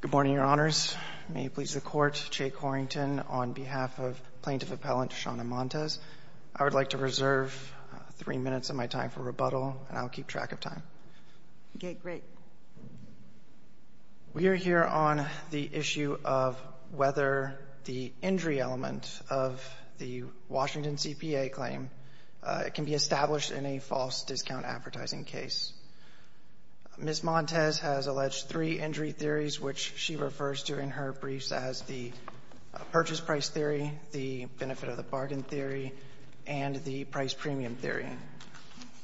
Good morning, Your Honors. May it please the Court, Jay Corrington on behalf of Plaintiff Appellant Shauna Montes. I would like to reserve three minutes of my time for rebuttal and I'll keep track of time. Okay, great. We are here on the issue of whether the injury element of the Washington CPA claim can be established in a false discount advertising case. Ms. Montes has alleged three injury theories, which she refers to in her briefs as the purchase price theory, the benefit of the bargain theory, and the price premium theory.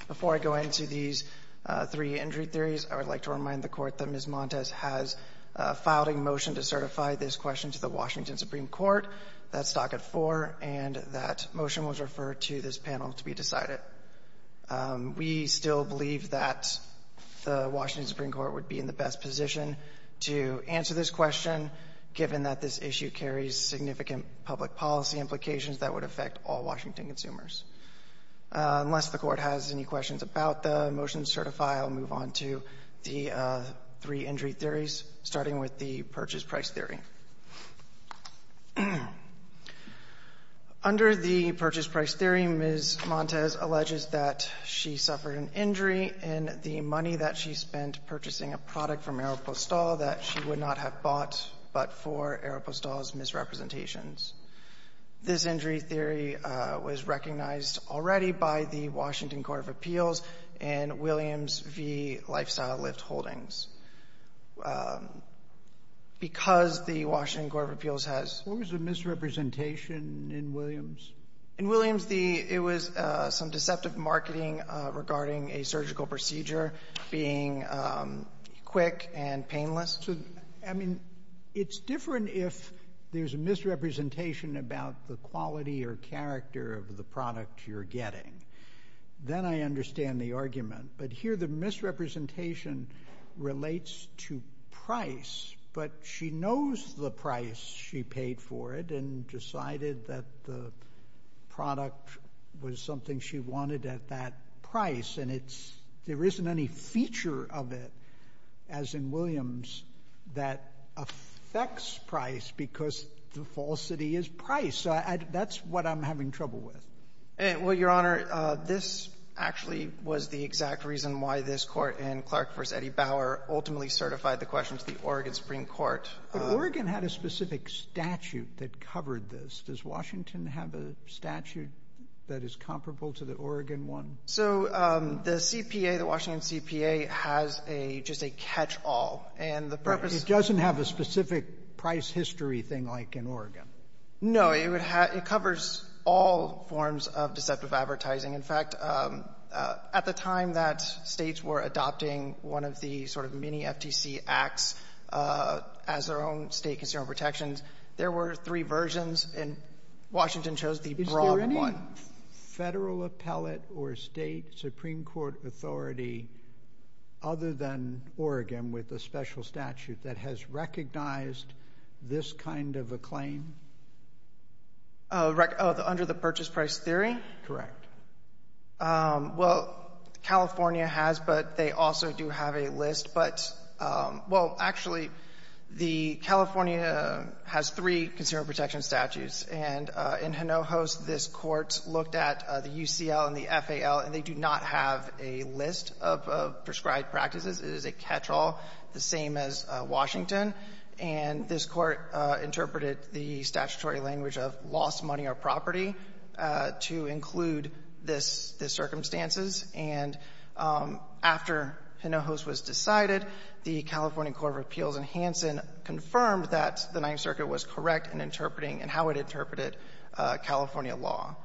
Before I go into these three injury theories, I would like to remind the Court that Ms. Montes has filed a motion to certify this question to the Washington Supreme Court. That's docket 4, and that motion was referred to this panel to be decided. We still believe that the Washington Supreme Court would be in the best position to answer this question, given that this issue carries significant public policy implications that would affect all Washington consumers. Unless the Court has any questions about the motion to certify, I'll move on to the three injury theories, starting with the purchase price theory. Under the purchase price theory, Ms. Montes alleges that she suffered an injury in the money that she spent purchasing a product from Aeropostale that she would not have bought but for Aeropostale's misrepresentations. This injury theory was recognized already by the Washington Court of Appeals and Williams v. Lifestyle Lift Holdings. Because the Washington Court of Appeals has What was the misrepresentation in Williams? In Williams, the — it was some deceptive marketing regarding a surgical procedure being quick and painless. So, I mean, it's different if there's a misrepresentation about the quality or character of the product you're getting. Then I understand the argument. But here the misrepresentation relates to price, but she knows the price she paid for it and decided that the product was something she wanted at that price. And it's — there isn't any feature of it, as in Williams, that affects price because the falsity is price. So I — that's what I'm having trouble with. Well, Your Honor, this actually was the exact reason why this Court in Clark v. Eddie Bauer ultimately certified the question to the Oregon Supreme Court. But Oregon had a specific statute that covered this. Does Washington have a statute that is comparable to the Oregon one? So the CPA, the Washington CPA, has a — just a catch-all. And the purpose — It doesn't have a specific price history thing like in Oregon. No. It would have — it covers all forms of deceptive advertising. In fact, at the time that states were adopting one of the sort of mini-FTC acts as their own state consumer protections, there were three versions, and Washington chose the broad one. Is there any federal appellate or state Supreme Court authority other than Oregon with a special statute that has recognized this kind of a claim? Under the purchase price theory? Correct. Well, California has, but they also do have a list. But, well, actually, the — California has three consumer protection statutes. And in Hinojos, this Court looked at the UCL and the FAL, and they do not have a list of prescribed practices. It is a catch-all, the same as Washington. And this Court interpreted the statutory language of lost money or property to include this — the And after Hinojos was decided, the California Court of Appeals in Hansen confirmed that the Ninth Circuit was correct in interpreting and how it interpreted California law.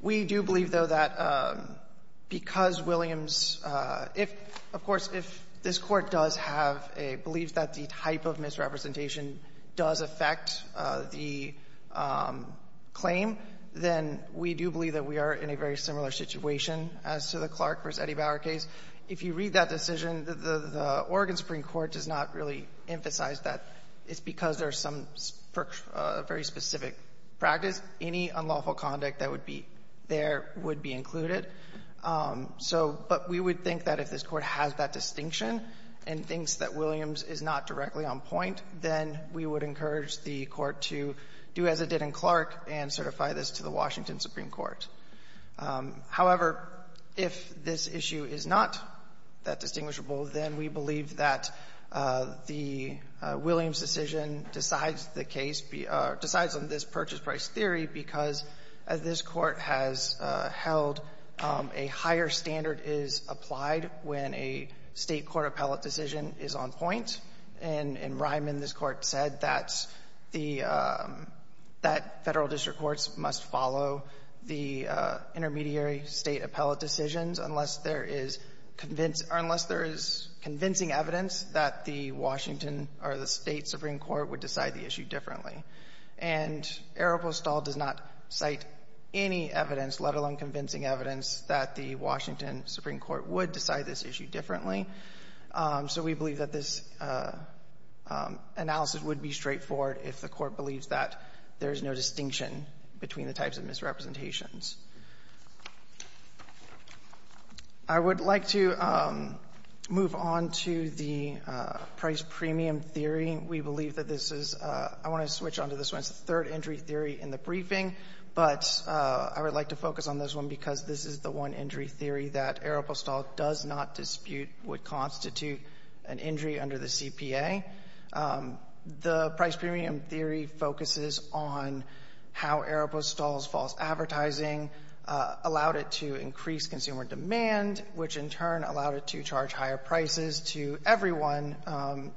We do believe, though, that because Williams — if — of course, if this Court does have a belief that the type of misrepresentation does affect the claim, then we do believe that we are in a very similar situation as to the Clark v. Eddie Bauer case. If you read that decision, the Oregon Supreme Court does not really emphasize that. It's because there's some very specific practice. Any unlawful conduct that would be there would be included. So — but we would think that if this Court has that distinction and thinks that Williams is not directly on point, then we would encourage the Court to do as it did in Clark and certify this to the Washington Supreme Court. However, if this issue is not that distinguishable, then we believe that the Williams decision decides the case — decides on this purchase price theory because, as this Court has held, a higher standard is applied when a State court appellate decision is on point. And in Ryman, this Court said that the — that Federal district courts must follow the intermediary State appellate decisions unless there is convinced — or unless there is convincing evidence that the Washington or the State supreme court would decide the issue differently. And Aropostal does not cite any evidence, let alone convincing evidence, that the Washington supreme court would decide this issue differently. So we believe that this analysis would be straightforward if the Court believes that there is no distinction between the types of misrepresentations. I would like to move on to the price premium theory. We believe that this is — I want to switch on to this one. It's the third-entry theory in the briefing. But I would like to focus on this one because this is the one-entry theory that Aropostal does not dispute would constitute an injury under the CPA. The price premium theory focuses on how Aropostal's false advertising allowed it to increase consumer demand, which in turn allowed it to charge higher prices to everyone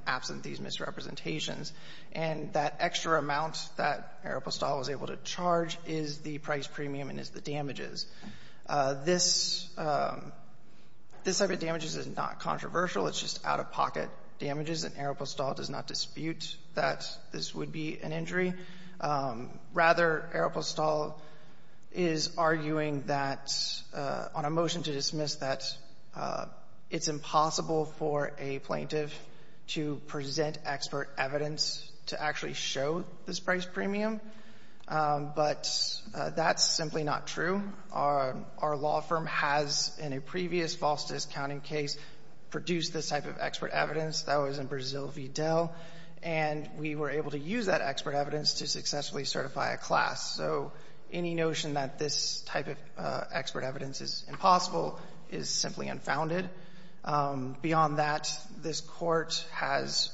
absent these misrepresentations. And that extra amount that Aropostal was able to charge is the price premium and is the damages. This — this type of damages is not controversial. It's just out-of-pocket damages. And Aropostal does not dispute that this would be an injury. Rather, Aropostal is arguing that on a motion to dismiss that it's impossible for a plaintiff to present expert evidence to actually show this price That's simply not true. Our law firm has in a previous false discounting case produced this type of expert evidence. That was in Brazil v. Dell. And we were able to use that expert evidence to successfully certify a class. So any notion that this type of expert evidence is impossible is simply unfounded. Beyond that, this Court has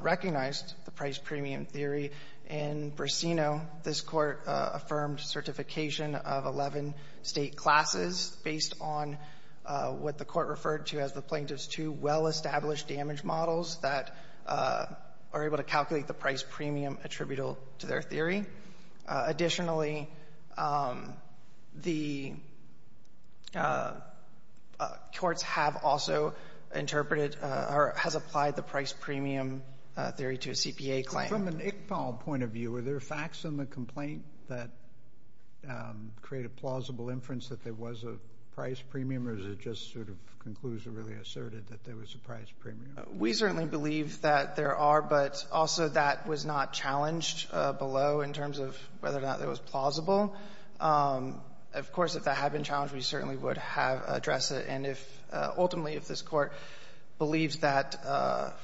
recognized the price premium theory. In Brasino, this Court affirmed certification of 11 State classes based on what the Court referred to as the plaintiff's two well-established damage models that are able to calculate the price premium attributable to their theory. Additionally, the courts have also interpreted or has applied the price premium claim. From an ICPAL point of view, are there facts in the complaint that create a plausible inference that there was a price premium, or does it just sort of conclude or really asserted that there was a price premium? We certainly believe that there are, but also that was not challenged below in terms of whether or not it was plausible. Of course, if that had been challenged, we certainly would have addressed it. And if ultimately if this Court believes that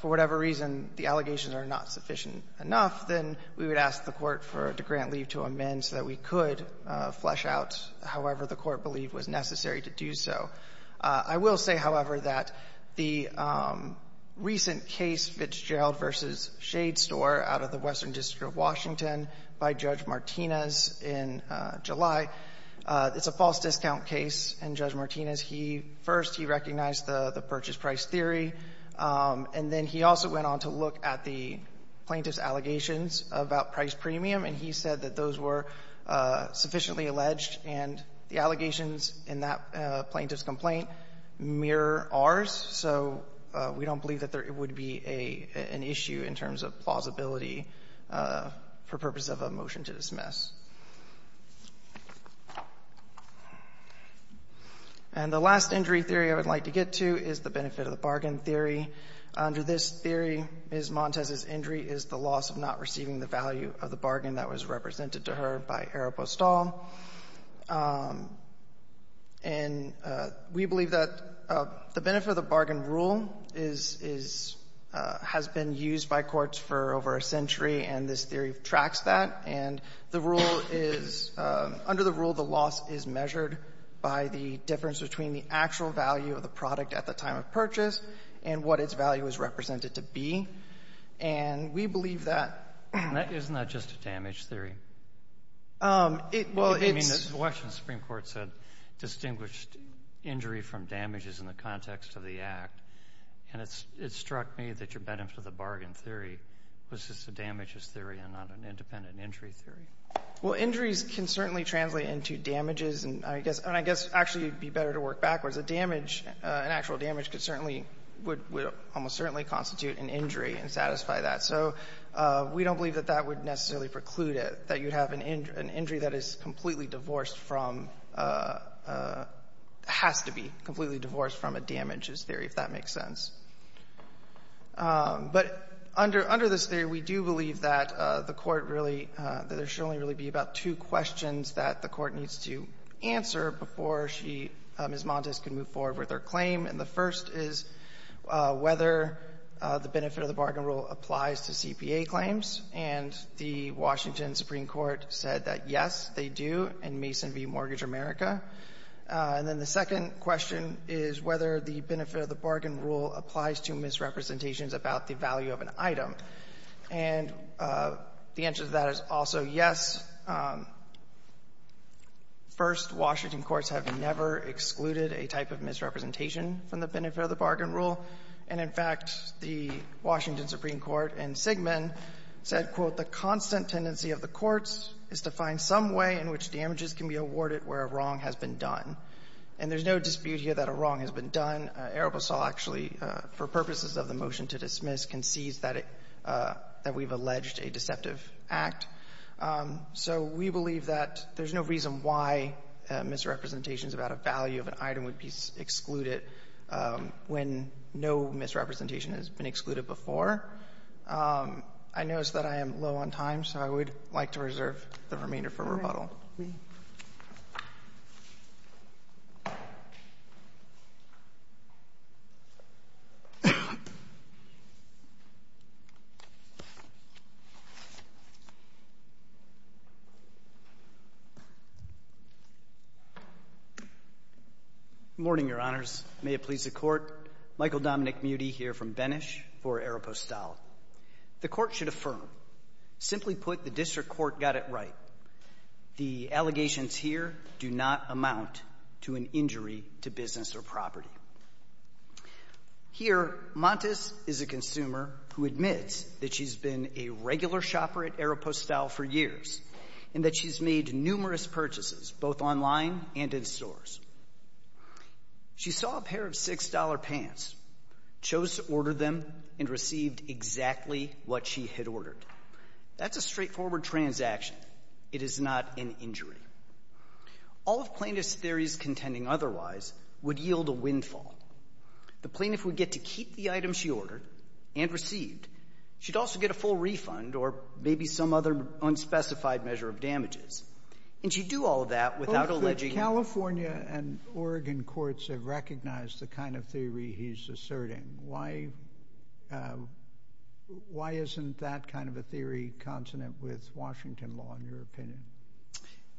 for whatever reason the allegations are not sufficient enough, then we would ask the Court for DeGrant leave to amend so that we could flesh out however the Court believed was necessary to do so. I will say, however, that the recent case, Fitzgerald v. Shade Store, out of the Western District of Washington by Judge Martinez in July, it's a false discount case. And Judge Martinez, he first, he recognized the purchase price theory, and then he also went on to look at the plaintiff's allegations about price premium, and he said that those were sufficiently alleged, and the allegations in that plaintiff's complaint mirror ours. So we don't believe that there would be an issue in terms of plausibility for purpose of a motion to dismiss. And the last injury theory I would like to get into is the benefit-of-the-bargain theory. Under this theory, Ms. Montes' injury is the loss of not receiving the value of the bargain that was represented to her by Eropostal. And we believe that the benefit-of-the-bargain rule is, is, has been used by courts for over a century, and this theory tracks that. And the rule is, under the rule, the loss is measured by the difference between the actual value of the product at the time of purchase and what its value is represented to be. And we believe that — And isn't that just a damage theory? Well, it's — I mean, the Washington Supreme Court said distinguished injury from damage is in the context of the Act. And it struck me that your benefit-of-the-bargain theory was just a damages theory and not an independent injury theory. Well, injuries can certainly translate into damages, and I guess — and I guess actually it would be better to work backwards. A damage, an actual damage, could certainly — would almost certainly constitute an injury and satisfy that. So we don't believe that that would necessarily preclude it, that you'd have an injury that is completely divorced from — has to be completely divorced from a damages theory, if that makes sense. But under this theory, we do believe that the Court really — that there should only really be about two questions that the Court needs to answer before she, Ms. Montes, can move forward with her claim. And the first is whether the benefit-of-the-bargain rule applies to CPA claims. And the Washington Supreme Court said that, yes, they do in Mason v. Mortgage America. And then the second question is whether the benefit-of-the-bargain rule applies to misrepresentations about the value of an item. And the answer to that is also, yes. First, Washington courts have never excluded a type of misrepresentation from the benefit-of-the-bargain rule. And, in fact, the Washington Supreme Court in Sigmund said, quote, the constant tendency of the courts is to find some way in which damages can be awarded where a wrong has been done. And there's no dispute here that a wrong has been done. Arabesol actually, for purposes of the motion to dismiss, concedes that it — that we've alleged a deceptive act. So we believe that there's no reason why misrepresentations about a value of an item would be excluded when no misrepresentation has been excluded before. I notice that I am low on time, so I would like to reserve the remainder for rebuttal. May it please the Court. Michael Dominick, Mutey, here from Benesh for Arapostale. The Court should affirm. Simply put, the district court got it right. The allegations here do not amount to an injury to business or property. Here Montes is a consumer who admits that she's been a regular shopper at Arapostale for years and that she's made numerous purchases, both online and in stores. She saw a pair of six-dollar pants, chose to order them, and received exactly what she had ordered. That's a straightforward transaction. It is not an injury. All of plaintiff's theories contending otherwise would yield a windfall. The plaintiff would get to keep the item she ordered and received. She'd also get a full refund or maybe some other unspecified measure of damages. And she'd do all of that without alleging — California and Oregon courts have recognized the kind of theory he's asserting. Why isn't that kind of a theory consonant with Washington law, in your opinion?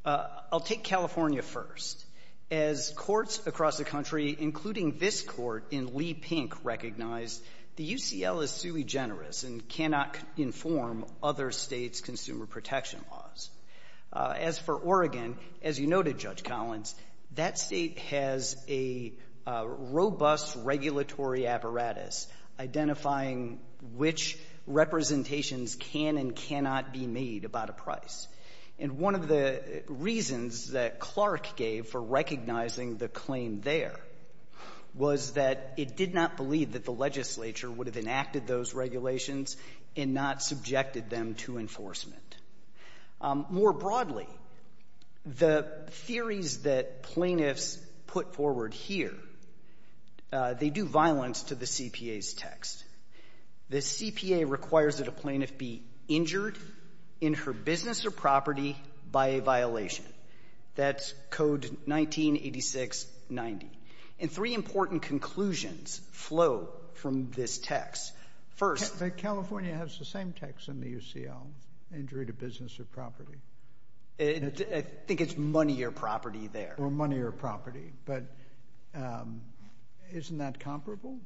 I'll take California first. As courts across the country, including this court in Lee Pink, recognize, the UCL is sui generis and cannot inform other states' consumer protection laws. As for Oregon, as you noted, Judge Collins, that State has a robust regulatory apparatus identifying which representations can and cannot be made about a price. And one of the reasons that Clark gave for recognizing the claim there was that it did not believe that the legislature would have enacted those regulations and not subjected them to enforcement. More broadly, the theories that plaintiffs put forward here, they do violence to the CPA's text. The CPA requires that a plaintiff be injured in her business or property by a violation. That's Code 198690. And three important conclusions flow from this text. First — California has the same text in the UCL, injury to business or property. I think it's money or property there. Or money or property. But isn't that comparable?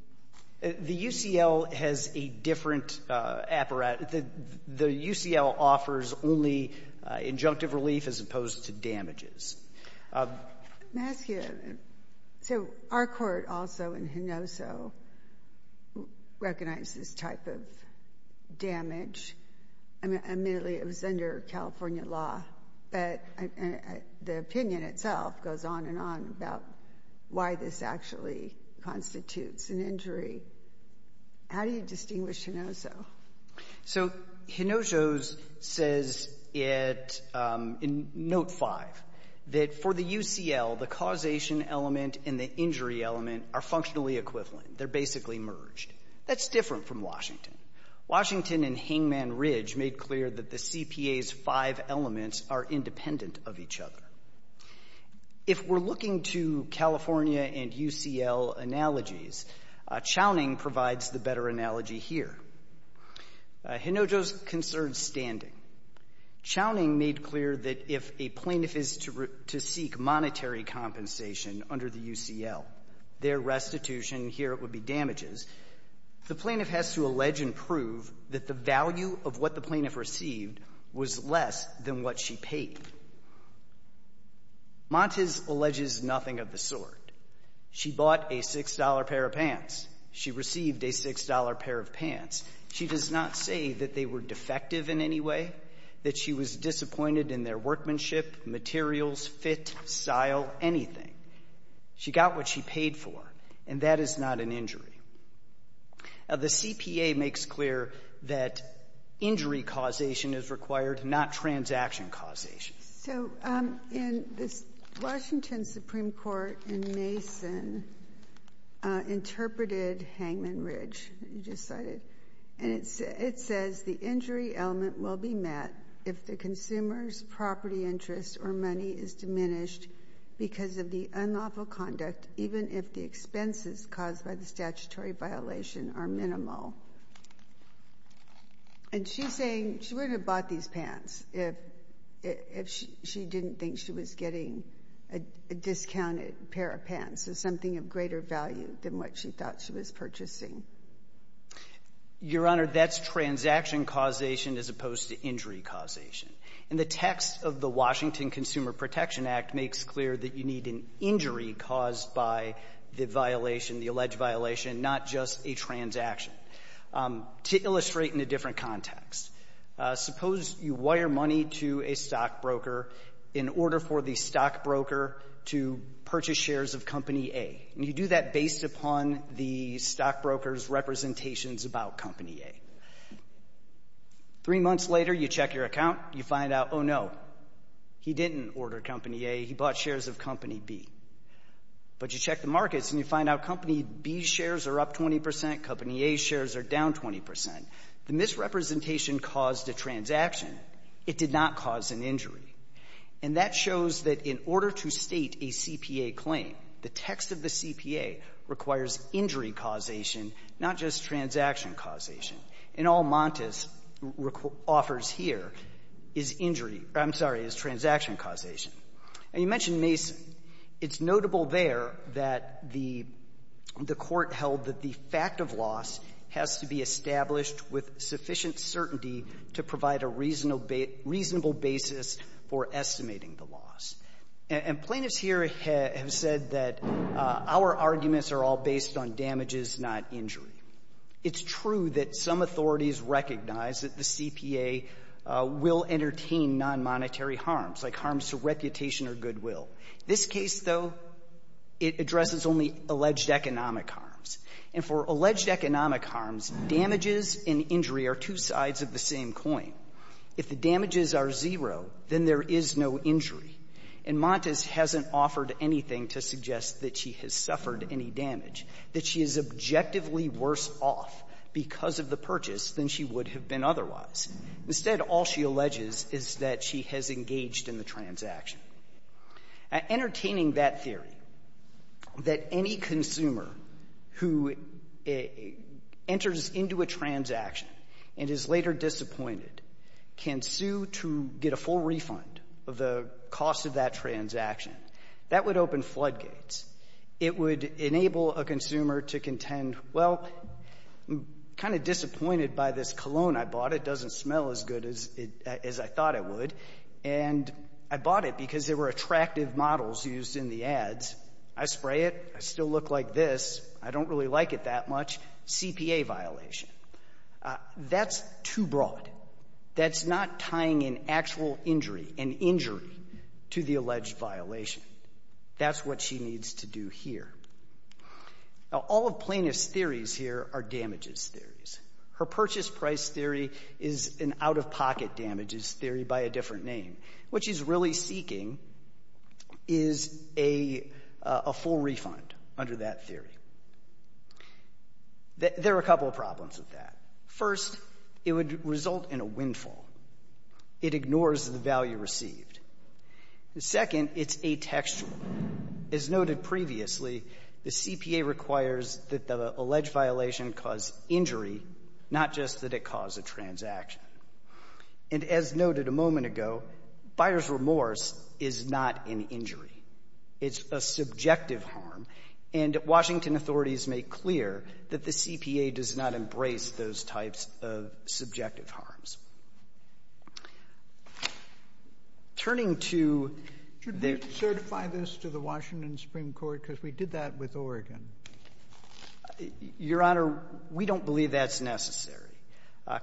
The UCL has a different apparatus. The UCL offers only injunctive relief as opposed to damages. Let me ask you, so our court also in Hinoso recognized this type of damage. I mean, admittedly, it was under California law. But the opinion itself goes on and on about why this actually constitutes an injury. How do you distinguish Hinoso? So Hinoso says it in Note 5 that for the UCL, the causation element and the injury element are functionally equivalent. They're basically merged. That's different from Washington. Washington and Hangman Ridge made clear that the CPA's five elements are independent of each other. If we're looking to California and UCL analogies, Chowning provides the better analogy here. Hinojo's concerns standing. Chowning made clear that if a plaintiff is to seek monetary compensation under the UCL, their restitution, here it would be damages, the plaintiff has to allege and prove that the value of what the plaintiff received was less than what she paid. Montes alleges nothing of the sort. She bought a $6 pair of pants. She received a $6 pair of pants. She does not say that they were defective in any way, that she was disappointed in their workmanship, materials, fit, style, anything. She got what she paid for, and that is not an injury. The CPA makes clear that injury causation is required, not transaction causation. So in this Washington Supreme Court in Mason interpreted Hangman Ridge, you just cited, and it says the injury element will be met if the consumer's property interest or money is diminished because of the unlawful conduct, even if the expenses caused by the statutory think she was getting a discounted pair of pants, so something of greater value than what she thought she was purchasing. Your Honor, that's transaction causation as opposed to injury causation. And the text of the Washington Consumer Protection Act makes clear that you need an injury caused by the violation, the alleged violation, not just a transaction. To illustrate in a different context, suppose you wire money to a stockbroker in order for the stockbroker to purchase shares of Company A, and you do that based upon the stockbroker's representations about Company A. Three months later, you check your account. You find out, oh, no, he didn't order Company A. He bought shares of Company B. But you check the markets, and you find out Company B's shares are up 20 percent, Company A's shares are down 20 percent. The misrepresentation caused a transaction. It did not cause an injury. And that shows that in order to state a CPA claim, the text of the CPA requires injury causation, not just transaction causation. And all Montes offers here is injury or, I'm sorry, is transaction causation. And you mentioned Mason. It's notable there that the Court held that the fact of loss has to be established with sufficient certainty to provide a reasonable basis for estimating the loss. And plaintiffs here have said that our arguments are all based on damages, not injury. It's true that some authorities recognize that the CPA will entertain nonmonetary harms, like harms to reputation or goodwill. This case, though, it addresses only alleged economic harms. And for alleged economic harms, damages and injury are two sides of the same coin. If the damages are zero, then there is no injury. And Montes hasn't offered anything to suggest that she has suffered any damage, that she is objectively worse off because of the purchase than she would have been otherwise. Instead, all she alleges is that she has engaged in the transaction. Entertaining that theory that any consumer who enters into a transaction and is later disappointed can sue to get a full refund of the cost of that transaction, that would open floodgates. It would enable a consumer to contend, well, I'm kind of disappointed by this cologne I bought. It doesn't smell as good as I thought it would. And I bought it because there were attractive models used in the ads. I spray it, I still look like this, I don't really like it that much, CPA violation. That's too broad. That's not tying an actual injury, an injury, to the alleged violation. That's what she needs to do here. Now, all of Plaintiff's theories here are damages theories. Her purchase price theory is an out-of-pocket damages theory by a different name. What she's really seeking is a full refund under that theory. There are a couple of problems with that. First, it would result in a windfall. It ignores the value received. Second, it's atextual. As noted previously, the CPA requires that the alleged violation cause injury, not just that it cause a transaction. And as noted a moment ago, buyer's remorse is not an injury. It's a subjective harm. And Washington authorities make clear that the CPA does not embrace those types of subjective harms. Turning to the — Shouldn't they certify this to the Washington Supreme Court, because we did that with Oregon? Your Honor, we don't believe that's necessary.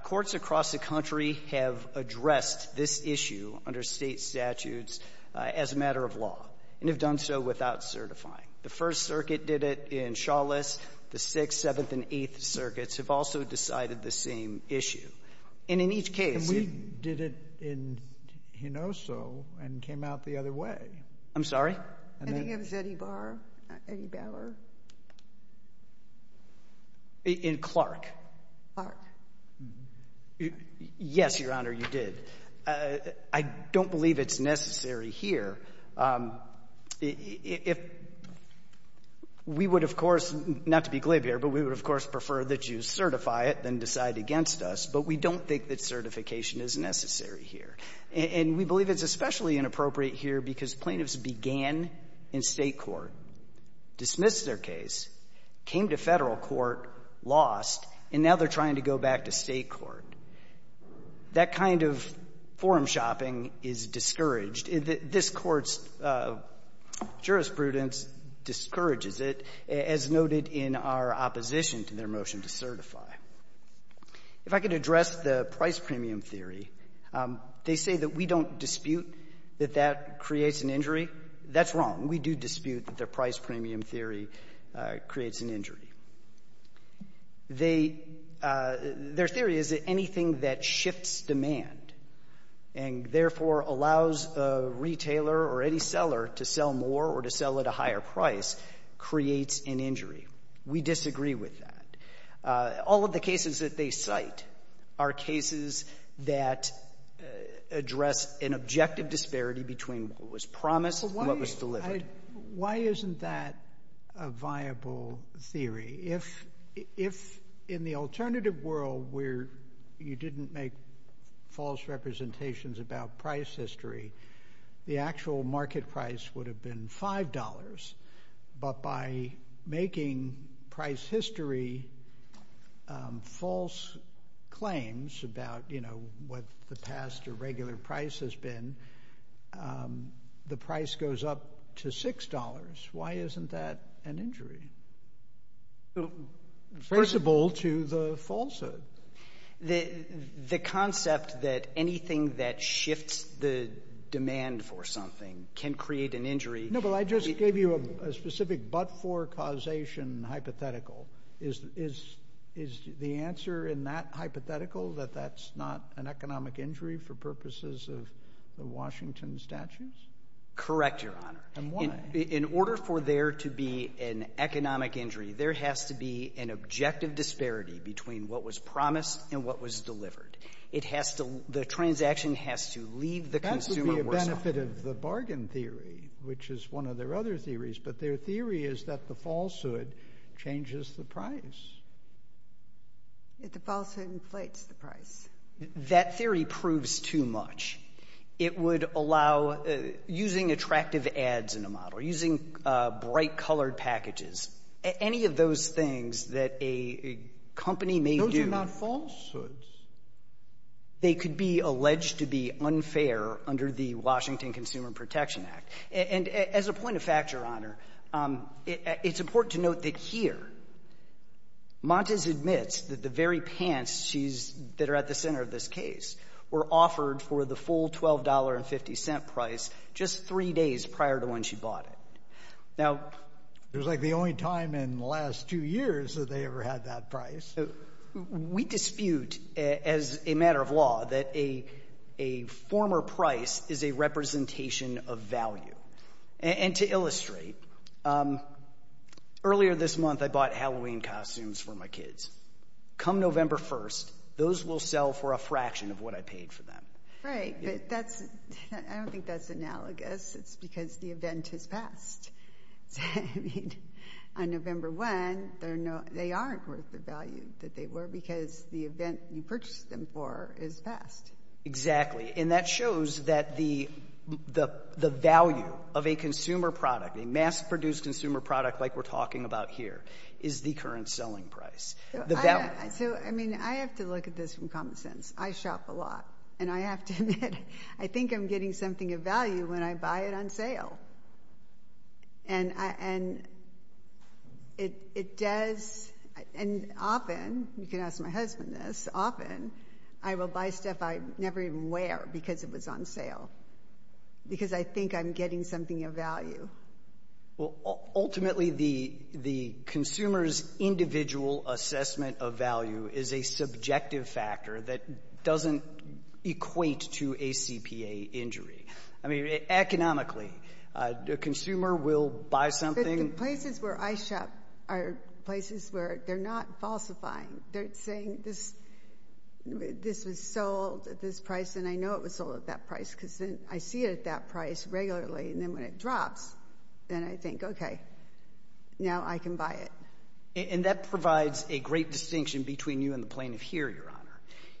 Courts across the country have addressed this issue under State statutes as a matter of law, and have done so without certifying. The First Circuit did it in Chalice. The Sixth, Seventh, and Eighth Circuits have also decided the same issue. And in each case — And we did it in Hinoso and came out the other way. I'm sorry? I think it was Eddie Bauer. In Clark. Clark. Yes, Your Honor, you did. I don't believe it's necessary here. If — we would, of course — not to be glib here, but we would, of course, prefer that you certify it than decide against us. But we don't think that certification is necessary here. And we believe it's especially inappropriate here because plaintiffs began in State court lost, and now they're trying to go back to State court. That kind of forum shopping is discouraged. This Court's jurisprudence discourages it, as noted in our opposition to their motion to certify. If I could address the price-premium theory. They say that we don't dispute that that creates an injury. That's wrong. We do dispute that their price-premium theory creates an injury. Their theory is that anything that shifts demand and, therefore, allows a retailer or any seller to sell more or to sell at a higher price creates an injury. We disagree with that. All of the cases that they cite are cases that address an objective disparity between what was promised and what was delivered. Why isn't that a viable theory? If, in the alternative world, where you didn't make false representations about price history, the actual market price would have been $5. But by making price history false claims about what the past or regular price has been, the price goes up to $6. Why isn't that an injury? First of all, to the falsehood. The concept that anything that shifts the demand for something can create an injury. No, but I just gave you a specific but-for causation hypothetical. Is the answer in that hypothetical that that's not an economic injury for purposes of the Washington statutes? Correct, Your Honor. And why? In order for there to be an economic injury, there has to be an objective disparity between what was promised and what was delivered. It has to — the transaction has to leave the consumer worse off. That would be a benefit of the bargain theory, which is one of their other theories. But their theory is that the falsehood changes the price. If the falsehood inflates the price. That theory proves too much. It would allow — using attractive ads in a model, using bright-colored packages, any of those things that a company may do — Those are not falsehoods. They could be alleged to be unfair under the Washington Consumer Protection Act. And as a point of factor, Your Honor, it's important to note that here Montes admits that the very pants she's — that are at the center of this case were offered for the full $12.50 price just three days prior to when she bought it. Now — It was like the only time in the last two years that they ever had that price. We dispute, as a matter of law, that a former price is a representation of value. And to illustrate, earlier this month I bought Halloween costumes for my kids. Come November 1st, those will sell for a fraction of what I paid for them. Right, but that's — I don't think that's analogous. It's because the event has passed. I mean, on November 1, they aren't worth the value that they were because the event you purchased them for is passed. Exactly, and that shows that the value of a consumer product, a mass-produced consumer product like we're talking about here, is the current selling price. So, I mean, I have to look at this from common sense. I shop a lot, and I have to admit, I think I'm getting something of value when I buy it on sale. And it does — and often, you can ask my husband this, often I will buy stuff I never even wear because it was on sale because I think I'm getting something of value. Ultimately, the consumer's individual assessment of value is a subjective factor that doesn't equate to a CPA injury. I mean, economically, a consumer will buy something — But the places where I shop are places where they're not falsifying. They're saying this was sold at this price, and I know it was sold at that price because I see it at that price regularly, and then when it drops, then I think, okay, now I can buy it. And that provides a great distinction between you and the plaintiff here, Your Honor.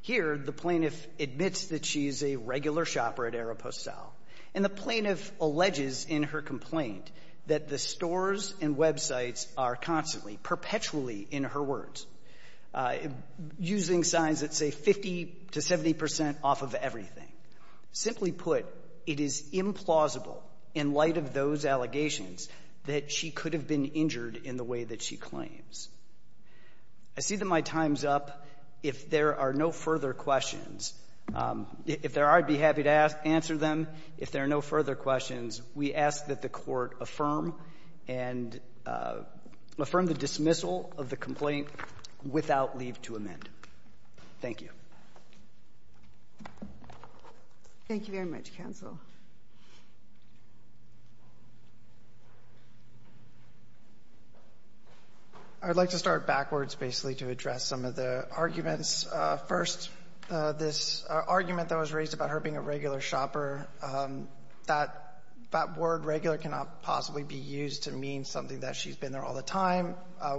Here, the plaintiff admits that she is a regular shopper at Aeropostale, and the plaintiff alleges in her complaint that the stores and websites are constantly, perpetually, in her words, using signs that say 50 to 70 percent off of everything. Simply put, it is implausible in light of those allegations that she could have been injured in the way that she claims. I see that my time's up. If there are no further questions, if there are, I'd be happy to answer them. If there are no further questions, we ask that the Court affirm and affirm the dismissal of the complaint without leave to amend. Thank you. Thank you very much, counsel. I would like to start backwards, basically, to address some of the arguments. First, this argument that was raised about her being a regular shopper, that word regular cannot possibly be used to mean something that she's been there all the time.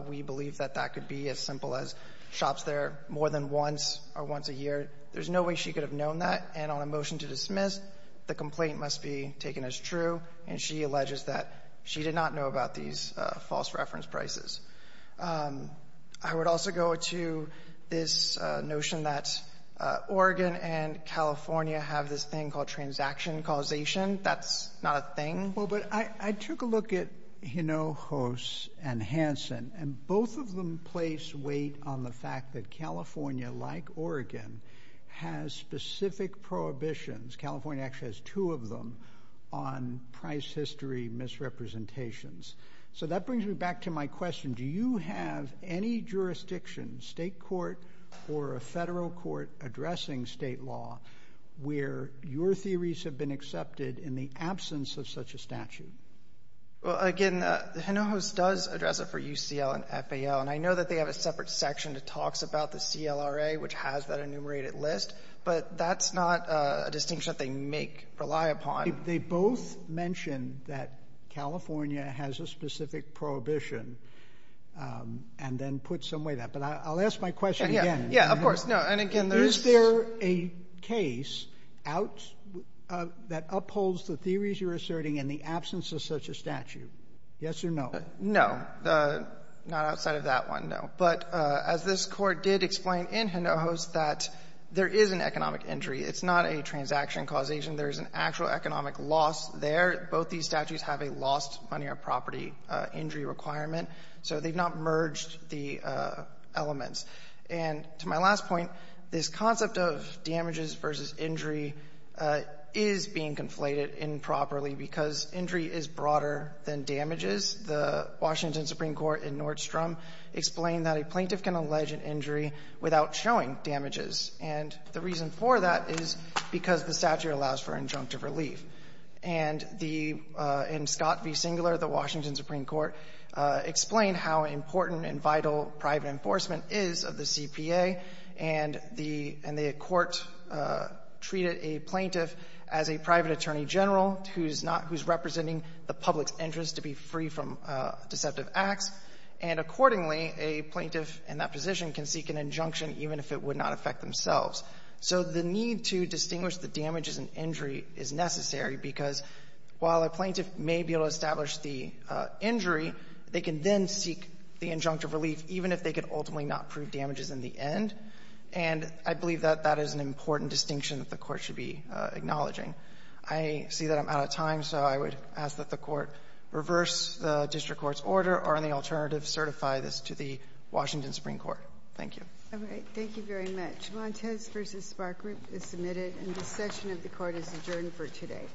We believe that that could be as simple as shops there more than once or once a year. There's no way she could have known that, and on a motion to dismiss, the complaint must be taken as true, and she alleges that she did not know about these false reference prices. I would also go to this notion that Oregon and California have this thing called transaction causation. That's not a thing. Well, but I took a look at Hinojos and Hanson, and both of them place weight on the fact that California, like Oregon, has specific prohibitions. California actually has two of them on price history misrepresentations. So that brings me back to my question. Do you have any jurisdiction, state court or a federal court, addressing state law where your theories have been accepted in the absence of such a statute? Well, again, Hinojos does address it for UCL and FAL, and I know that they have a separate section that talks about the CLRA, which has that enumerated list, but that's not a distinction that they make, rely upon. They both mention that California has a specific prohibition and then put some weight on that. But I'll ask my question again. Yeah, of course. Is there a case out that upholds the theories you're asserting in the absence of such a statute? Yes or no? No. Not outside of that one, no. But as this Court did explain in Hinojos, that there is an economic injury. It's not a transaction causation. There's an actual economic loss there. Both these statutes have a lost money or property injury requirement. So they've not merged the elements. And to my last point, this concept of damages versus injury is being conflated improperly because injury is broader than damages. The Washington Supreme Court in Nordstrom explained that a plaintiff can allege an injury without showing damages. And the reason for that is because the statute allows for injunctive relief. And the — in Scott v. Singler, the Washington Supreme Court explained how important and vital private enforcement is of the CPA. And the Court treated a plaintiff as a private attorney general who's not — who's representing the public's interest to be free from deceptive acts. And accordingly, a plaintiff in that position can seek an injunction even if it would not affect themselves. So the need to distinguish the damages and injury is necessary because while a plaintiff may be able to establish the injury, they can then seek the injunctive relief even if they could ultimately not prove damages in the end. And I believe that that is an important distinction that the Court should be acknowledging. I see that I'm out of time, so I would ask that the Court reverse the district court's order or, on the alternative, certify this to the Washington Supreme Court. Thank you. Thank you very much. Montes v. Spark Group is submitted, and this session of the Court is adjourned for today.